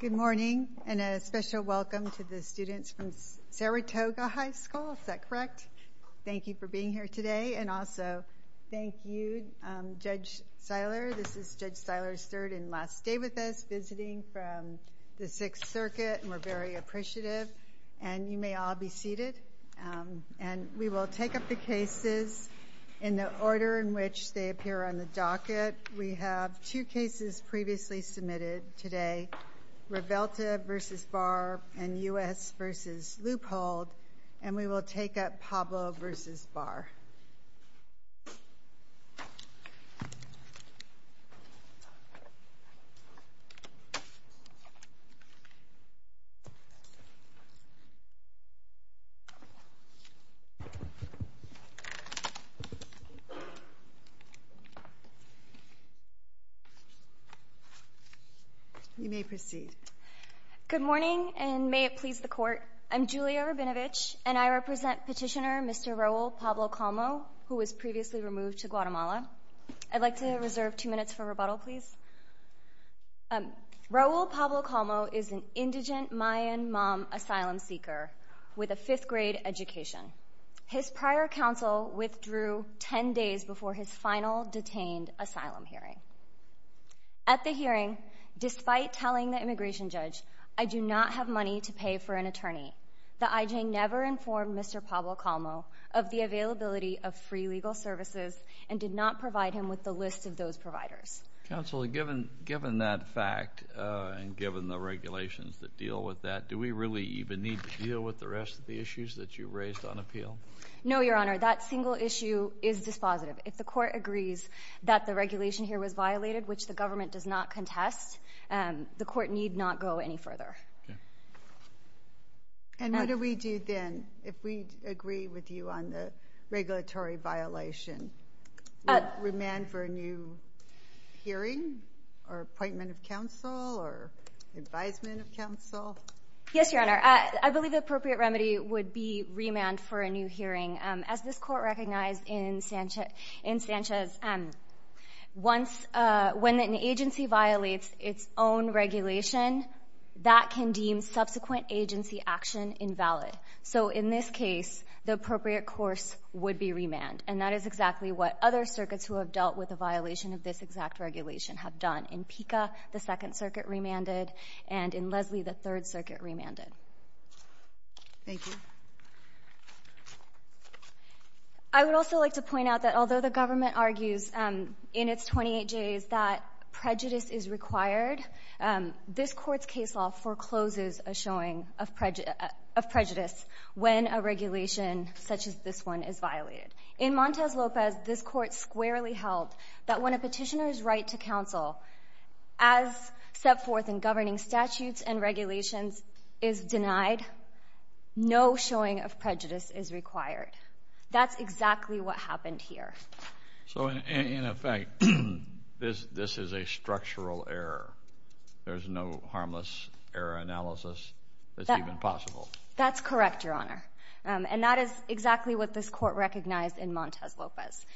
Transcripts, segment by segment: Good morning, and a special welcome to the students from Saratoga High School. Is that correct? Thank you for being here today. And also, thank you, Judge Seiler. This is Judge Seiler's third and last day with us visiting from the Sixth Circuit. And we're very appreciative. And you may all be seated. And we will take up the cases in the order in which they appear on the docket. We have two cases previously submitted today, Rivelta v. Barr and U.S. v. Leupold. And we will take up Pablo v. Barr. You may proceed. Good morning, and may it please the Court. I'm Julia Rabinovich, and I represent Petitioner Mr. Raul Pablo-Colmo, who was previously removed to Guatemala. I'd like to reserve two minutes for rebuttal, please. Raul Pablo-Colmo is an indigent Mayan mom asylum seeker with a fifth-grade education. His prior counsel withdrew ten days before his final detained asylum hearing. At the hearing, despite telling the immigration judge, I do not have money to pay for an attorney, the IJN never informed Mr. Pablo-Colmo of the availability of free legal services and did not provide him with the list of those providers. Counsel, given that fact and given the regulations that deal with that, do we really even need to deal with the rest of the issues that you raised on appeal? No, Your Honor, that single issue is dispositive. If the Court agrees that the regulation here was violated, which the government does not contest, the Court need not go any further. And what do we do then if we agree with you on the regulatory violation? Remand for a new hearing or appointment of counsel or advisement of counsel? Yes, Your Honor, I believe the appropriate remedy would be remand for a new hearing. As this Court recognized in Sanchez, when an agency violates its own regulation, that can deem subsequent agency action invalid. So in this case, the appropriate course would be remand. And that is exactly what other circuits who have dealt with a violation of this exact regulation have done. In PICA, the Second Circuit remanded, and in Leslie, the Third Circuit remanded. Thank you. I would also like to point out that although the government argues in its 28Js that prejudice is required, this Court's case law forecloses a showing of prejudice when a regulation such as this one is violated. In Montes Lopez, this Court squarely held that when a petitioner's right to counsel, as set forth in governing statutes and regulations, is denied, no showing of prejudice is required. That's exactly what happened here. So in effect, this is a structural error. There's no harmless error analysis that's even possible. That's correct, Your Honor. And that is exactly what this Court recognized in Montes Lopez.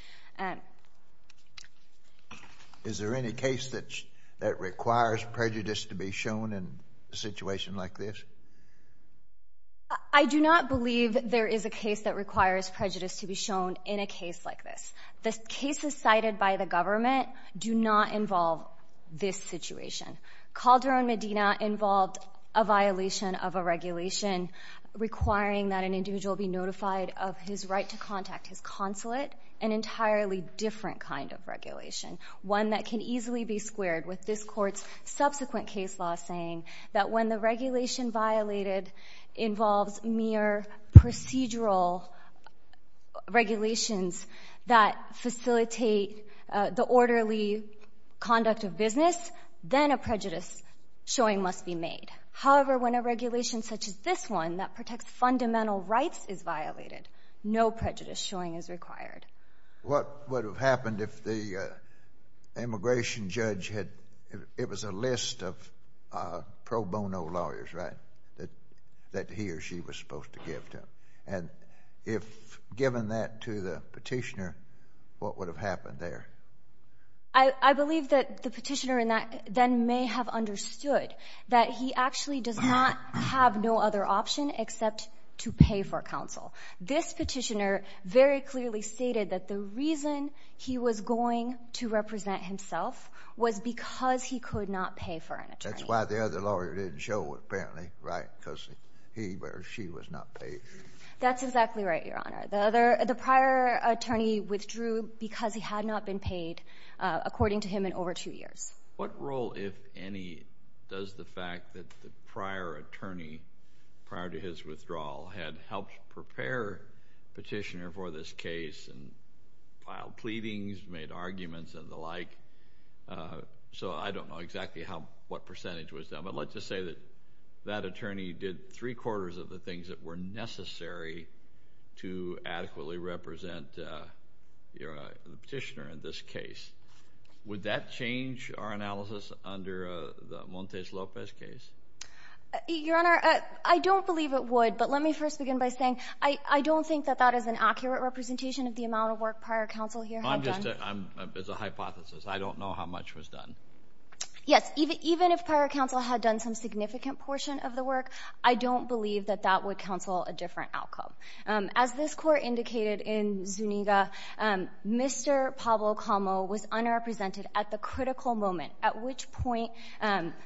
Is there any case that requires prejudice to be shown in a situation like this? I do not believe there is a case that requires prejudice to be shown in a case like this. The cases cited by the government do not involve this situation. Calderon-Medina involved a violation of a regulation requiring that an individual be notified of his right to contact his consulate, an entirely different kind of regulation, one that can easily be squared with this Court's subsequent case law saying that when the regulation violated involves mere procedural regulations that facilitate the orderly conduct of business, then a prejudice showing must be made. However, when a regulation such as this one that protects fundamental rights is violated, no prejudice showing is required. What would have happened if the immigration judge had—it was a list of pro bono lawyers, right, that he or she was supposed to give to them? And if given that to the petitioner, what would have happened there? I believe that the petitioner then may have understood that he actually does not have no other option except to pay for counsel. This petitioner very clearly stated that the reason he was going to represent himself was because he could not pay for an attorney. That's why the other lawyer didn't show, apparently, right, because he or she was not paid. That's exactly right, Your Honor. The prior attorney withdrew because he had not been paid, according to him, in over two years. What role, if any, does the fact that the prior attorney, prior to his withdrawal, had helped prepare the petitioner for this case and filed pleadings, made arguments and the like? So I don't know exactly what percentage was done, but let's just say that that attorney did three-quarters of the things that were necessary to adequately represent the petitioner in this case. Would that change our analysis under the Montes Lopez case? Your Honor, I don't believe it would, but let me first begin by saying I don't think that that is an accurate representation of the amount of work prior counsel here had done. It's a hypothesis. I don't know how much was done. Yes. Even if prior counsel had done some significant portion of the work, I don't believe that that would counsel a different outcome. As this Court indicated in Zuniga, Mr. Pablo Calmo was unrepresented at the critical moment, at which point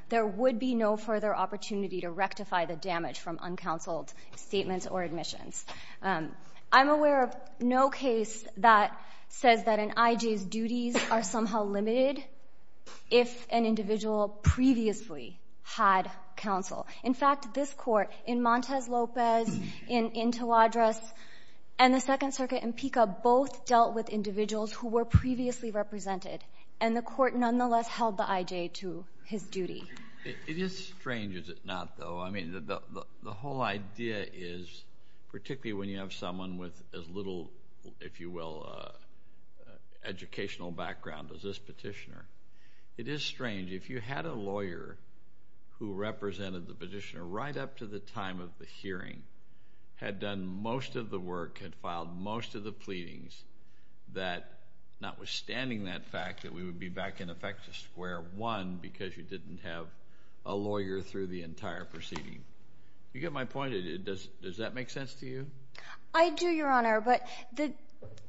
there would be no further opportunity to rectify the damage from uncounseled statements or admissions. I'm aware of no case that says that an I.J.'s duties are somehow limited if an individual previously had counsel. In fact, this Court in Montes Lopez, in Tawadros, and the Second Circuit in PICA both dealt with individuals who were previously represented, and the Court nonetheless held the I.J. to his duty. It is strange, is it not, though? I mean, the whole idea is, particularly when you have someone with as little, if you will, educational background as this petitioner, it is strange. If you had a lawyer who represented the petitioner right up to the time of the hearing, had done most of the work, had filed most of the pleadings, that notwithstanding that fact that we would be back in effect to square one because you didn't have a lawyer through the entire proceeding. You get my point? Does that make sense to you? I do, Your Honor. But the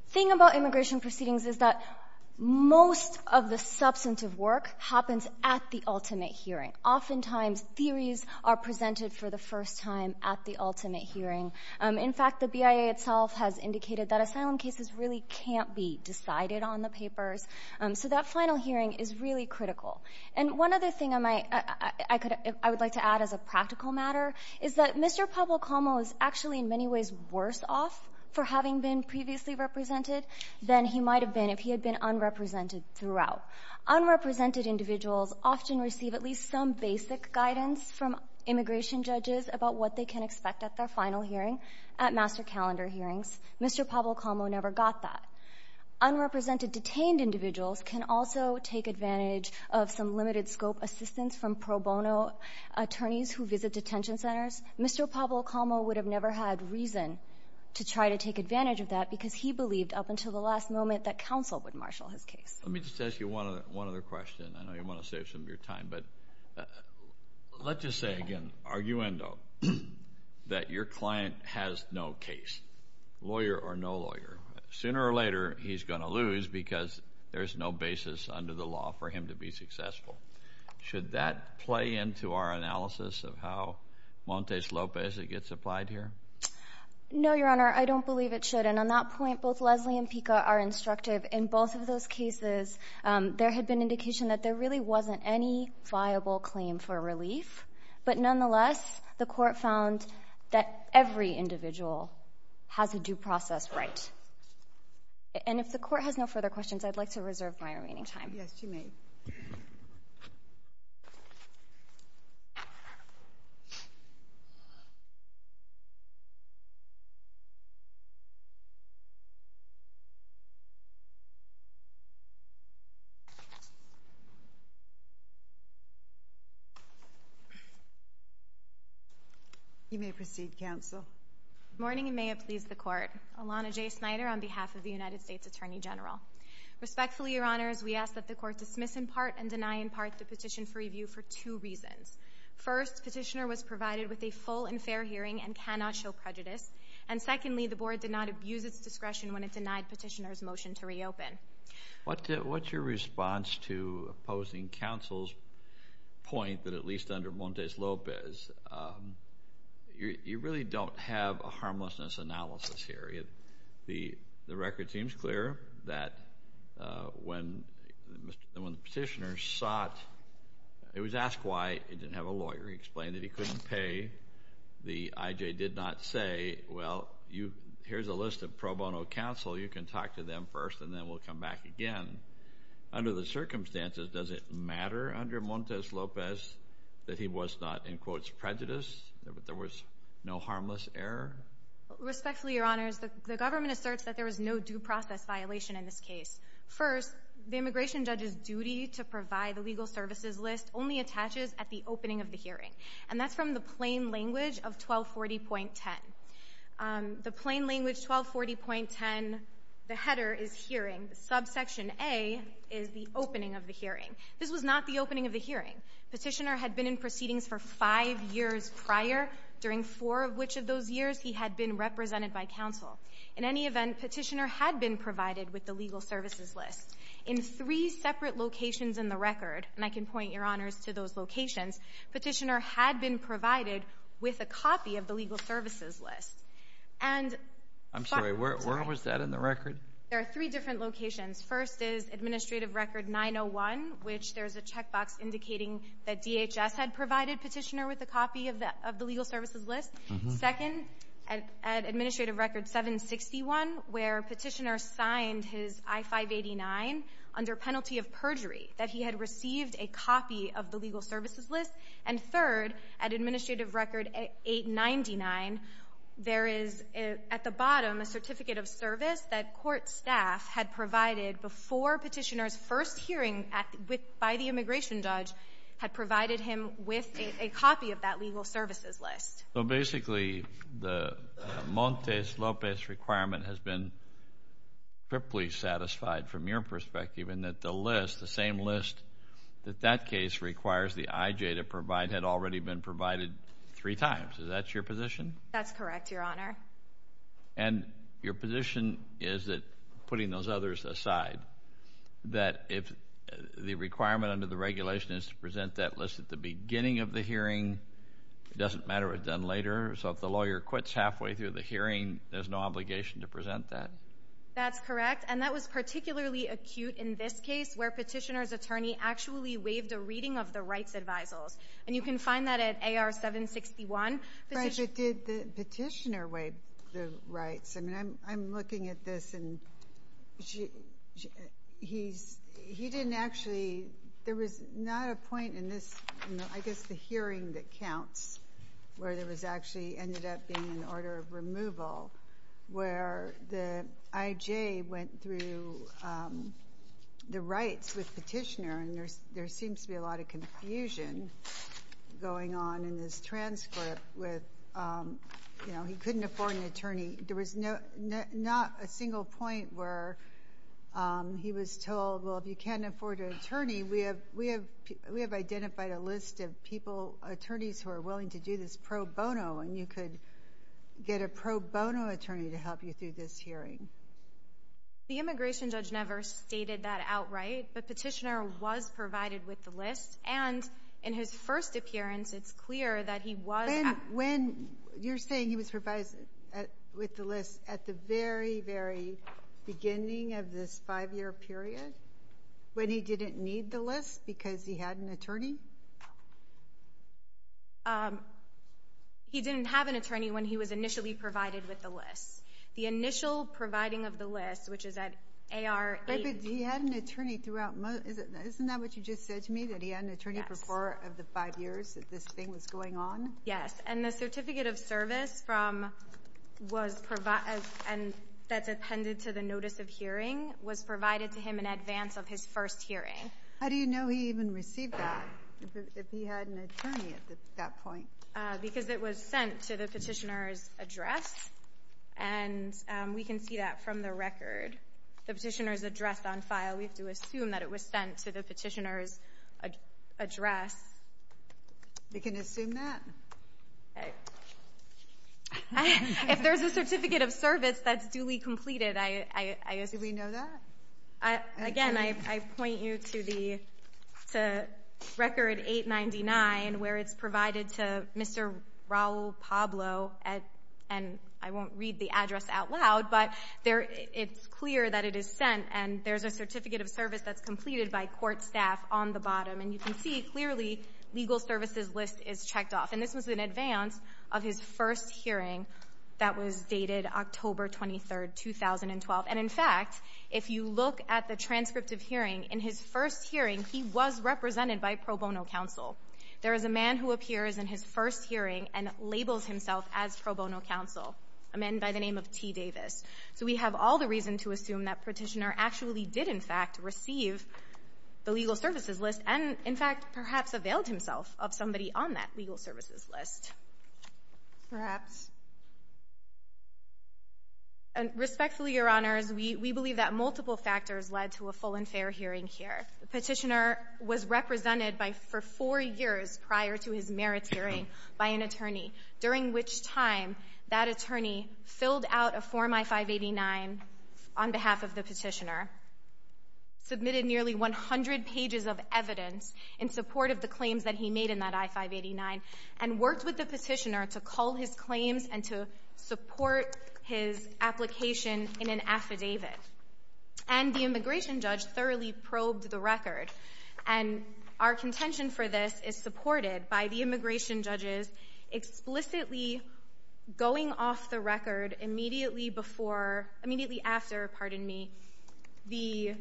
thing about immigration proceedings is that most of the substantive work happens at the ultimate hearing. Oftentimes, theories are presented for the first time at the ultimate hearing. In fact, the BIA itself has indicated that asylum cases really can't be decided on the papers. So that final hearing is really critical. And one other thing I would like to add as a practical matter is that Mr. Pablo Calmo is actually in many ways worse off for having been previously represented than he might have been if he had been unrepresented throughout. Unrepresented individuals often receive at least some basic guidance from immigration judges about what they can expect at their final hearing, at master calendar hearings. Mr. Pablo Calmo never got that. Unrepresented detained individuals can also take advantage of some limited scope assistance from pro bono attorneys who visit detention centers. Mr. Pablo Calmo would have never had reason to try to take advantage of that because he believed up until the last moment that counsel would marshal his case. Let me just ask you one other question. I know you want to save some of your time. But let's just say again, arguendo, that your client has no case, lawyer or no lawyer. Sooner or later, he's going to lose because there's no basis under the law for him to be successful. Should that play into our analysis of how Montes Lopez gets applied here? No, Your Honor. I don't believe it should. And on that point, both Leslie and Pica are instructive. In both of those cases, there had been indication that there really wasn't any viable claim for relief. But nonetheless, the court found that every individual has a due process right. And if the court has no further questions, I'd like to reserve my remaining time. Yes, you may. You may proceed, counsel. Good morning, and may it please the court. Alana J. Snyder on behalf of the United States Attorney General. Respectfully, Your Honors, we ask that the court dismiss in part and deny in part the petition for review for two reasons. First, petitioner was provided with a full and fair hearing and cannot show prejudice. And secondly, the board did not abuse its discretion when it denied petitioner's motion to reopen. What's your response to opposing counsel's point that at least under Montes Lopez, you really don't have a harmlessness analysis here. The record seems clear that when the petitioner sought, it was asked why he didn't have a lawyer. He explained that he couldn't pay. The IJ did not say, well, here's a list of pro bono counsel. You can talk to them first, and then we'll come back again. Under the circumstances, does it matter under Montes Lopez that he was not, in quotes, prejudiced, that there was no harmless error? Respectfully, Your Honors, the government asserts that there was no due process violation in this case. First, the immigration judge's duty to provide the legal services list only attaches at the opening of the hearing. And that's from the plain language of 1240.10. The plain language 1240.10, the header is hearing. The subsection A is the opening of the hearing. This was not the opening of the hearing. Petitioner had been in proceedings for five years prior. During four of which of those years, he had been represented by counsel. In any event, petitioner had been provided with the legal services list. In three separate locations in the record, and I can point, Your Honors, to those locations, petitioner had been provided with a copy of the legal services list. And— I'm sorry, where was that in the record? There are three different locations. First is Administrative Record 901, which there's a checkbox indicating that DHS had provided petitioner with a copy of the legal services list. Second, at Administrative Record 761, where petitioner signed his I-589 under penalty of perjury, that he had received a copy of the legal services list. And third, at Administrative Record 899, there is, at the bottom, a certificate of service that court staff had provided before petitioner's first hearing by the immigration judge had provided him with a copy of that legal services list. So, basically, the Montes Lopez requirement has been triply satisfied from your perspective in that the list, the same list that that case requires the IJ to provide, had already been provided three times. Is that your position? That's correct, Your Honor. And your position is that, putting those others aside, that if the requirement under the regulation is to present that list at the beginning of the hearing, it doesn't matter what's done later. So, if the lawyer quits halfway through the hearing, there's no obligation to present that? That's correct. And that was particularly acute in this case, where petitioner's attorney actually waived a reading of the rights advisals. And you can find that at AR 761. Right, but did the petitioner waive the rights? I mean, I'm looking at this, and he didn't actually—there was not a point in this, I guess, the hearing that counts, where there was actually—ended up being an order of removal, where the IJ went through the rights with petitioner. And there seems to be a lot of confusion going on in this transcript with, you know, he couldn't afford an attorney. There was not a single point where he was told, well, if you can't afford an attorney, we have identified a list of people, attorneys, who are willing to do this pro bono. And you could get a pro bono attorney to help you through this hearing. The immigration judge never stated that outright, but petitioner was provided with the list. And in his first appearance, it's clear that he was— When—you're saying he was provided with the list at the very, very beginning of this five-year period, when he didn't need the list because he had an attorney? He didn't have an attorney when he was initially provided with the list. The initial providing of the list, which is at AR 8— But he had an attorney throughout—isn't that what you just said to me, that he had an attorney for four of the five years that this thing was going on? Yes. And the certificate of service from—was—and that's appended to the notice of hearing was provided to him in advance of his first hearing. How do you know he even received that, if he had an attorney at that point? Because it was sent to the petitioner's address. And we can see that from the record. The petitioner's address on file, we have to assume that it was sent to the petitioner's address. We can assume that? Okay. If there's a certificate of service that's duly completed, I assume— Do we know that? Again, I point you to Record 899, where it's provided to Mr. Raul Pablo. And I won't read the address out loud, but it's clear that it is sent. And there's a certificate of service that's completed by court staff on the bottom. And you can see, clearly, legal services list is checked off. And this was in advance of his first hearing that was dated October 23, 2012. And, in fact, if you look at the transcript of hearing, in his first hearing, he was represented by pro bono counsel. There is a man who appears in his first hearing and labels himself as pro bono counsel, a man by the name of T. Davis. So we have all the reason to assume that petitioner actually did, in fact, receive the legal services list and, in fact, perhaps availed himself of somebody on that legal services list. Perhaps. Respectfully, Your Honors, we believe that multiple factors led to a full and fair hearing here. The petitioner was represented for four years prior to his merits hearing by an attorney, during which time that attorney filled out a Form I-589 on behalf of the petitioner, submitted nearly 100 pages of evidence in support of the claims that he made in that I-589, and worked with the petitioner to cull his claims and to support his application in an affidavit. And the immigration judge thoroughly probed the record. And our contention for this is supported by the immigration judge's explicitly going off the record immediately after the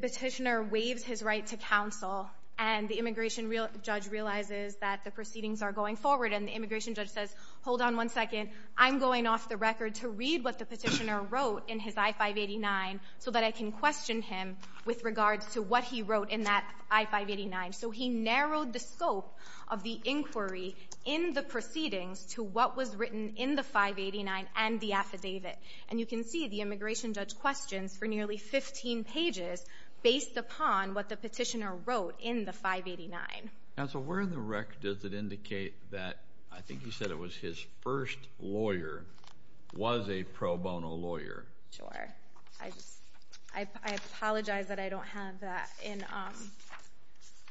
petitioner waives his right to counsel and the immigration judge realizes that the proceedings are going forward and the immigration judge says, hold on one second, I'm going off the record to read what the petitioner wrote in his I-589 so that I can question him with regards to what he wrote in that I-589. So he narrowed the scope of the inquiry in the proceedings to what was written in the 589 and the affidavit. And you can see the immigration judge questions for nearly 15 pages based upon what the petitioner wrote in the 589. Counsel, where in the record does it indicate that I think you said it was his first lawyer was a pro bono lawyer? Sure. I apologize that I don't have that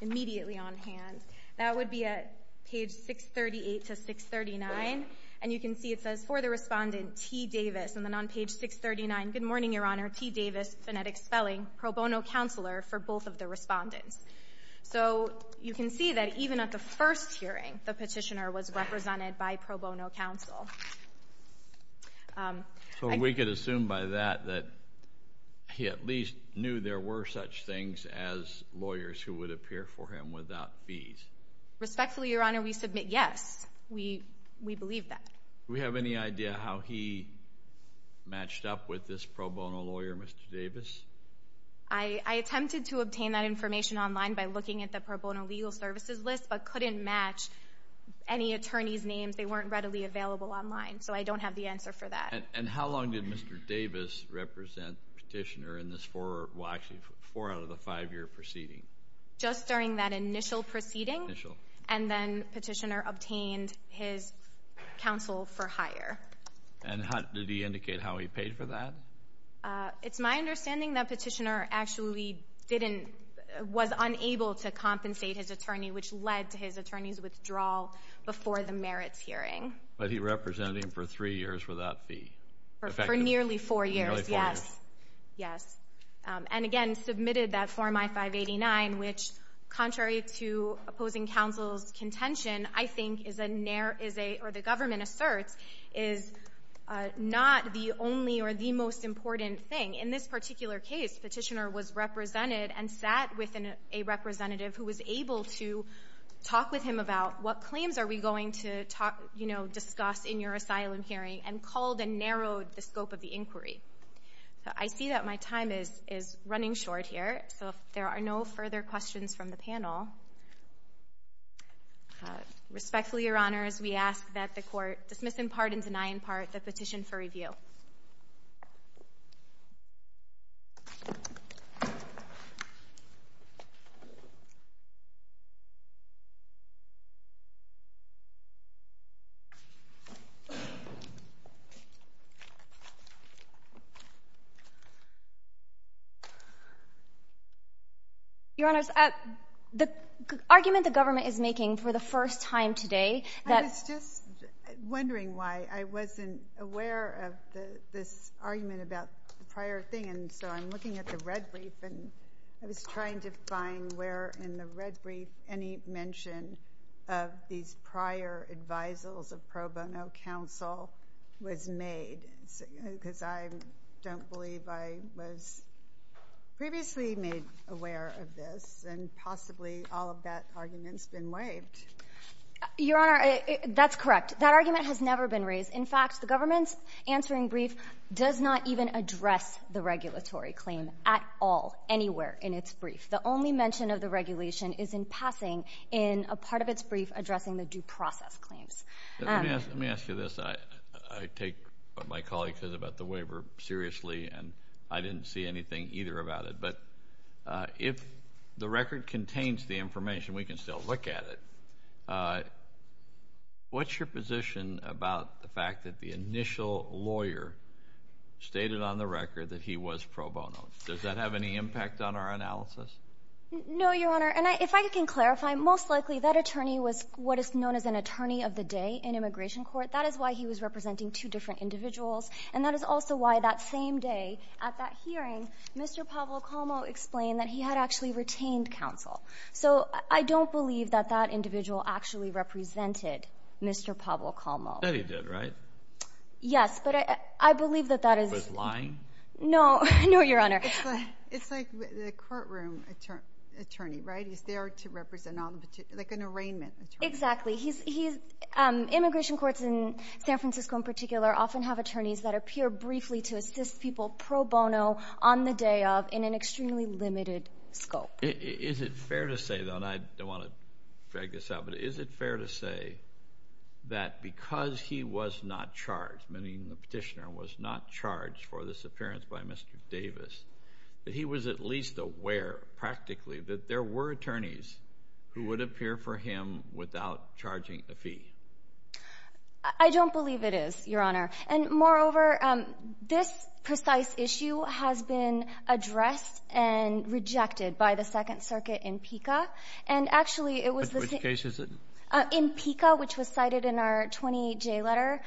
immediately on hand. That would be at page 638 to 639. And you can see it says for the respondent T. Davis. And then on page 639, good morning, Your Honor, T. Davis, phonetic spelling, pro bono counselor for both of the respondents. So you can see that even at the first hearing, the petitioner was represented by pro bono counsel. So we could assume by that that he at least knew there were such things as lawyers who would appear for him without fees. Respectfully, Your Honor, we submit yes. We believe that. Do we have any idea how he matched up with this pro bono lawyer, Mr. Davis? I attempted to obtain that information online by looking at the pro bono legal services list, but couldn't match any attorney's names. They weren't readily available online. So I don't have the answer for that. And how long did Mr. Davis represent the petitioner in this four-out-of-the-five-year proceeding? Just during that initial proceeding. Initial. And then petitioner obtained his counsel for hire. And did he indicate how he paid for that? It's my understanding that petitioner actually was unable to compensate his attorney, which led to his attorney's withdrawal before the merits hearing. But he represented him for three years without fee. For nearly four years, yes. Nearly four years. Yes. And, again, submitted that Form I-589, which, contrary to opposing counsel's contention, I think is a ñ or the government asserts is not the only or the most important thing. In this particular case, petitioner was represented and sat with a representative who was able to talk with him about what claims are we going to discuss in your asylum hearing and called and narrowed the scope of the inquiry. So I see that my time is running short here. So if there are no further questions from the panel, respectfully, Your Honors, we ask that the Court dismiss in part and deny in part the petition for review. Your Honors, the argument the government is making for the first time today that ñ and so I'm looking at the red brief and I was trying to find where in the red brief any mention of these prior advisals of pro bono counsel was made, because I don't believe I was previously made aware of this, and possibly all of that argument's been waived. Your Honor, that's correct. That argument has never been raised. In fact, the government's answering brief does not even address the regulatory claim at all, anywhere in its brief. The only mention of the regulation is in passing in a part of its brief addressing the due process claims. Let me ask you this. I take what my colleague said about the waiver seriously, and I didn't see anything either about it. But if the record contains the information, we can still look at it. What's your position about the fact that the initial lawyer stated on the record that he was pro bono? Does that have any impact on our analysis? No, Your Honor. And if I can clarify, most likely that attorney was what is known as an attorney of the day in immigration court. That is why he was representing two different individuals, and that is also why that same day at that hearing, Mr. Pablo Como explained that he had actually retained counsel. So I don't believe that that individual actually represented Mr. Pablo Como. I thought he did, right? Yes, but I believe that that is. He was lying? No, Your Honor. It's like the courtroom attorney, right? He's there to represent an arraignment attorney. Exactly. Immigration courts in San Francisco, in particular, often have attorneys that appear briefly to assist people pro bono on the day of in an extremely limited scope. Is it fair to say, though, and I don't want to drag this out, but is it fair to say that because he was not charged, meaning the petitioner was not charged for this appearance by Mr. Davis, that he was at least aware, practically, that there were attorneys who would appear for him without charging a fee? I don't believe it is, Your Honor. And, moreover, this precise issue has been addressed and rejected by the Second Circuit in PICA. And, actually, it was the same. Which case is it? In PICA, which was cited in our 28J letter,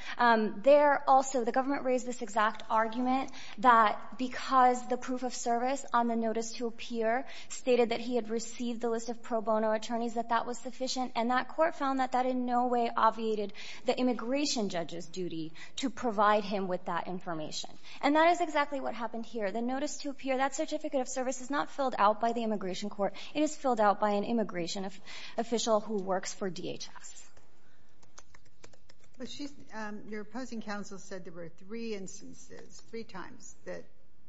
there also the government raised this exact argument that because the proof of service on the notice to appear stated that he had received the list of pro bono attorneys, that that was sufficient. And that court found that that in no way obviated the immigration judge's duty to provide him with that information. And that is exactly what happened here. The notice to appear, that certificate of service, is not filled out by the immigration court. It is filled out by an immigration official who works for DHS. Your opposing counsel said there were three instances, three times, that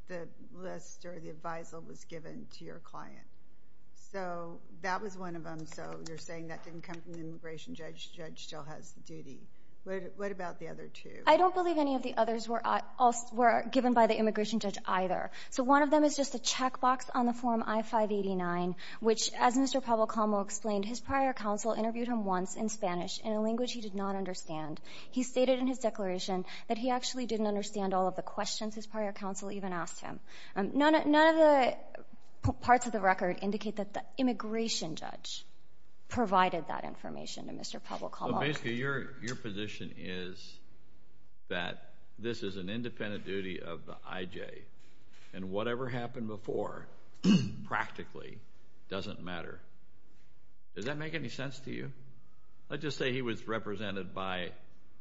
the list or the advisal was given to your client. So that was one of them. So you're saying that didn't come from the immigration judge. The judge still has the duty. What about the other two? I don't believe any of the others were given by the immigration judge either. So one of them is just a checkbox on the Form I-589, which, as Mr. Pablo Calmo explained, his prior counsel interviewed him once in Spanish in a language he did not understand. He stated in his declaration that he actually didn't understand all of the questions his prior counsel even asked him. None of the parts of the record indicate that the immigration judge provided that information to Mr. Pablo Calmo. So basically your position is that this is an independent duty of the IJ, and whatever happened before practically doesn't matter. Does that make any sense to you? Let's just say he was represented by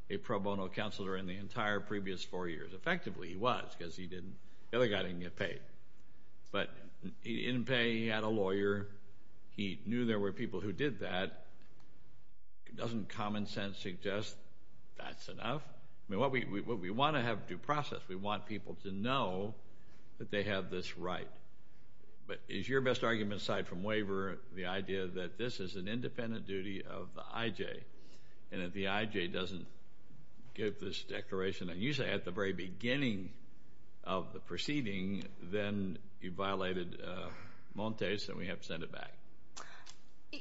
a pro bono counselor in the entire previous four years. Effectively, he was because the other guy didn't get paid. But he didn't pay. He had a lawyer. He knew there were people who did that. Doesn't common sense suggest that's enough? I mean, we want to have due process. We want people to know that they have this right. But is your best argument, aside from waiver, the idea that this is an independent duty of the IJ and that the IJ doesn't give this declaration, and usually at the very beginning of the proceeding, then you violated Montes and we have to send it back?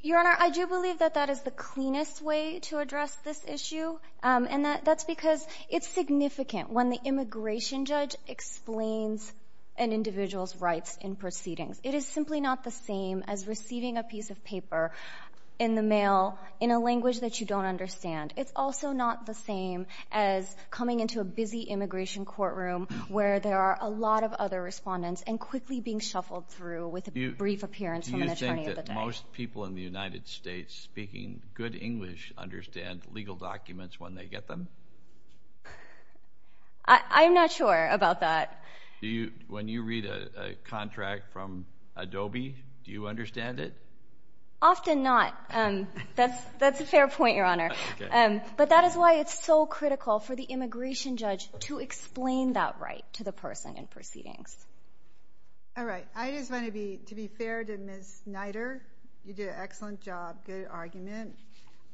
Your Honor, I do believe that that is the cleanest way to address this issue, and that's because it's significant when the immigration judge explains an individual's rights in proceedings. It is simply not the same as receiving a piece of paper in the mail in a language that you don't understand. It's also not the same as coming into a busy immigration courtroom where there are a lot of other respondents and quickly being shuffled through with a brief appearance from an attorney of the day. Do you think that most people in the United States speaking good English understand legal documents when they get them? I'm not sure about that. When you read a contract from Adobe, do you understand it? Often not. That's a fair point, Your Honor. But that is why it's so critical for the immigration judge to explain that right to the person in proceedings. All right. I just want to be fair to Ms. Snyder. You did an excellent job. Good argument.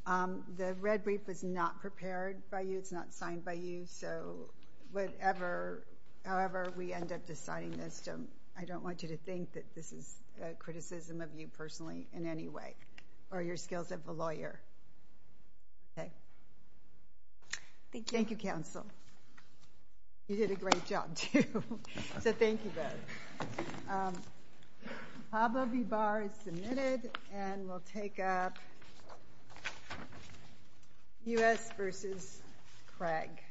The red brief was not prepared by you. It's not signed by you. However we end up deciding this, I don't want you to think that this is a criticism of you personally in any way, or your skills as a lawyer. Thank you, counsel. You did a great job, too. So thank you both. HABA v. Barr is submitted and will take up U.S. v. Craig.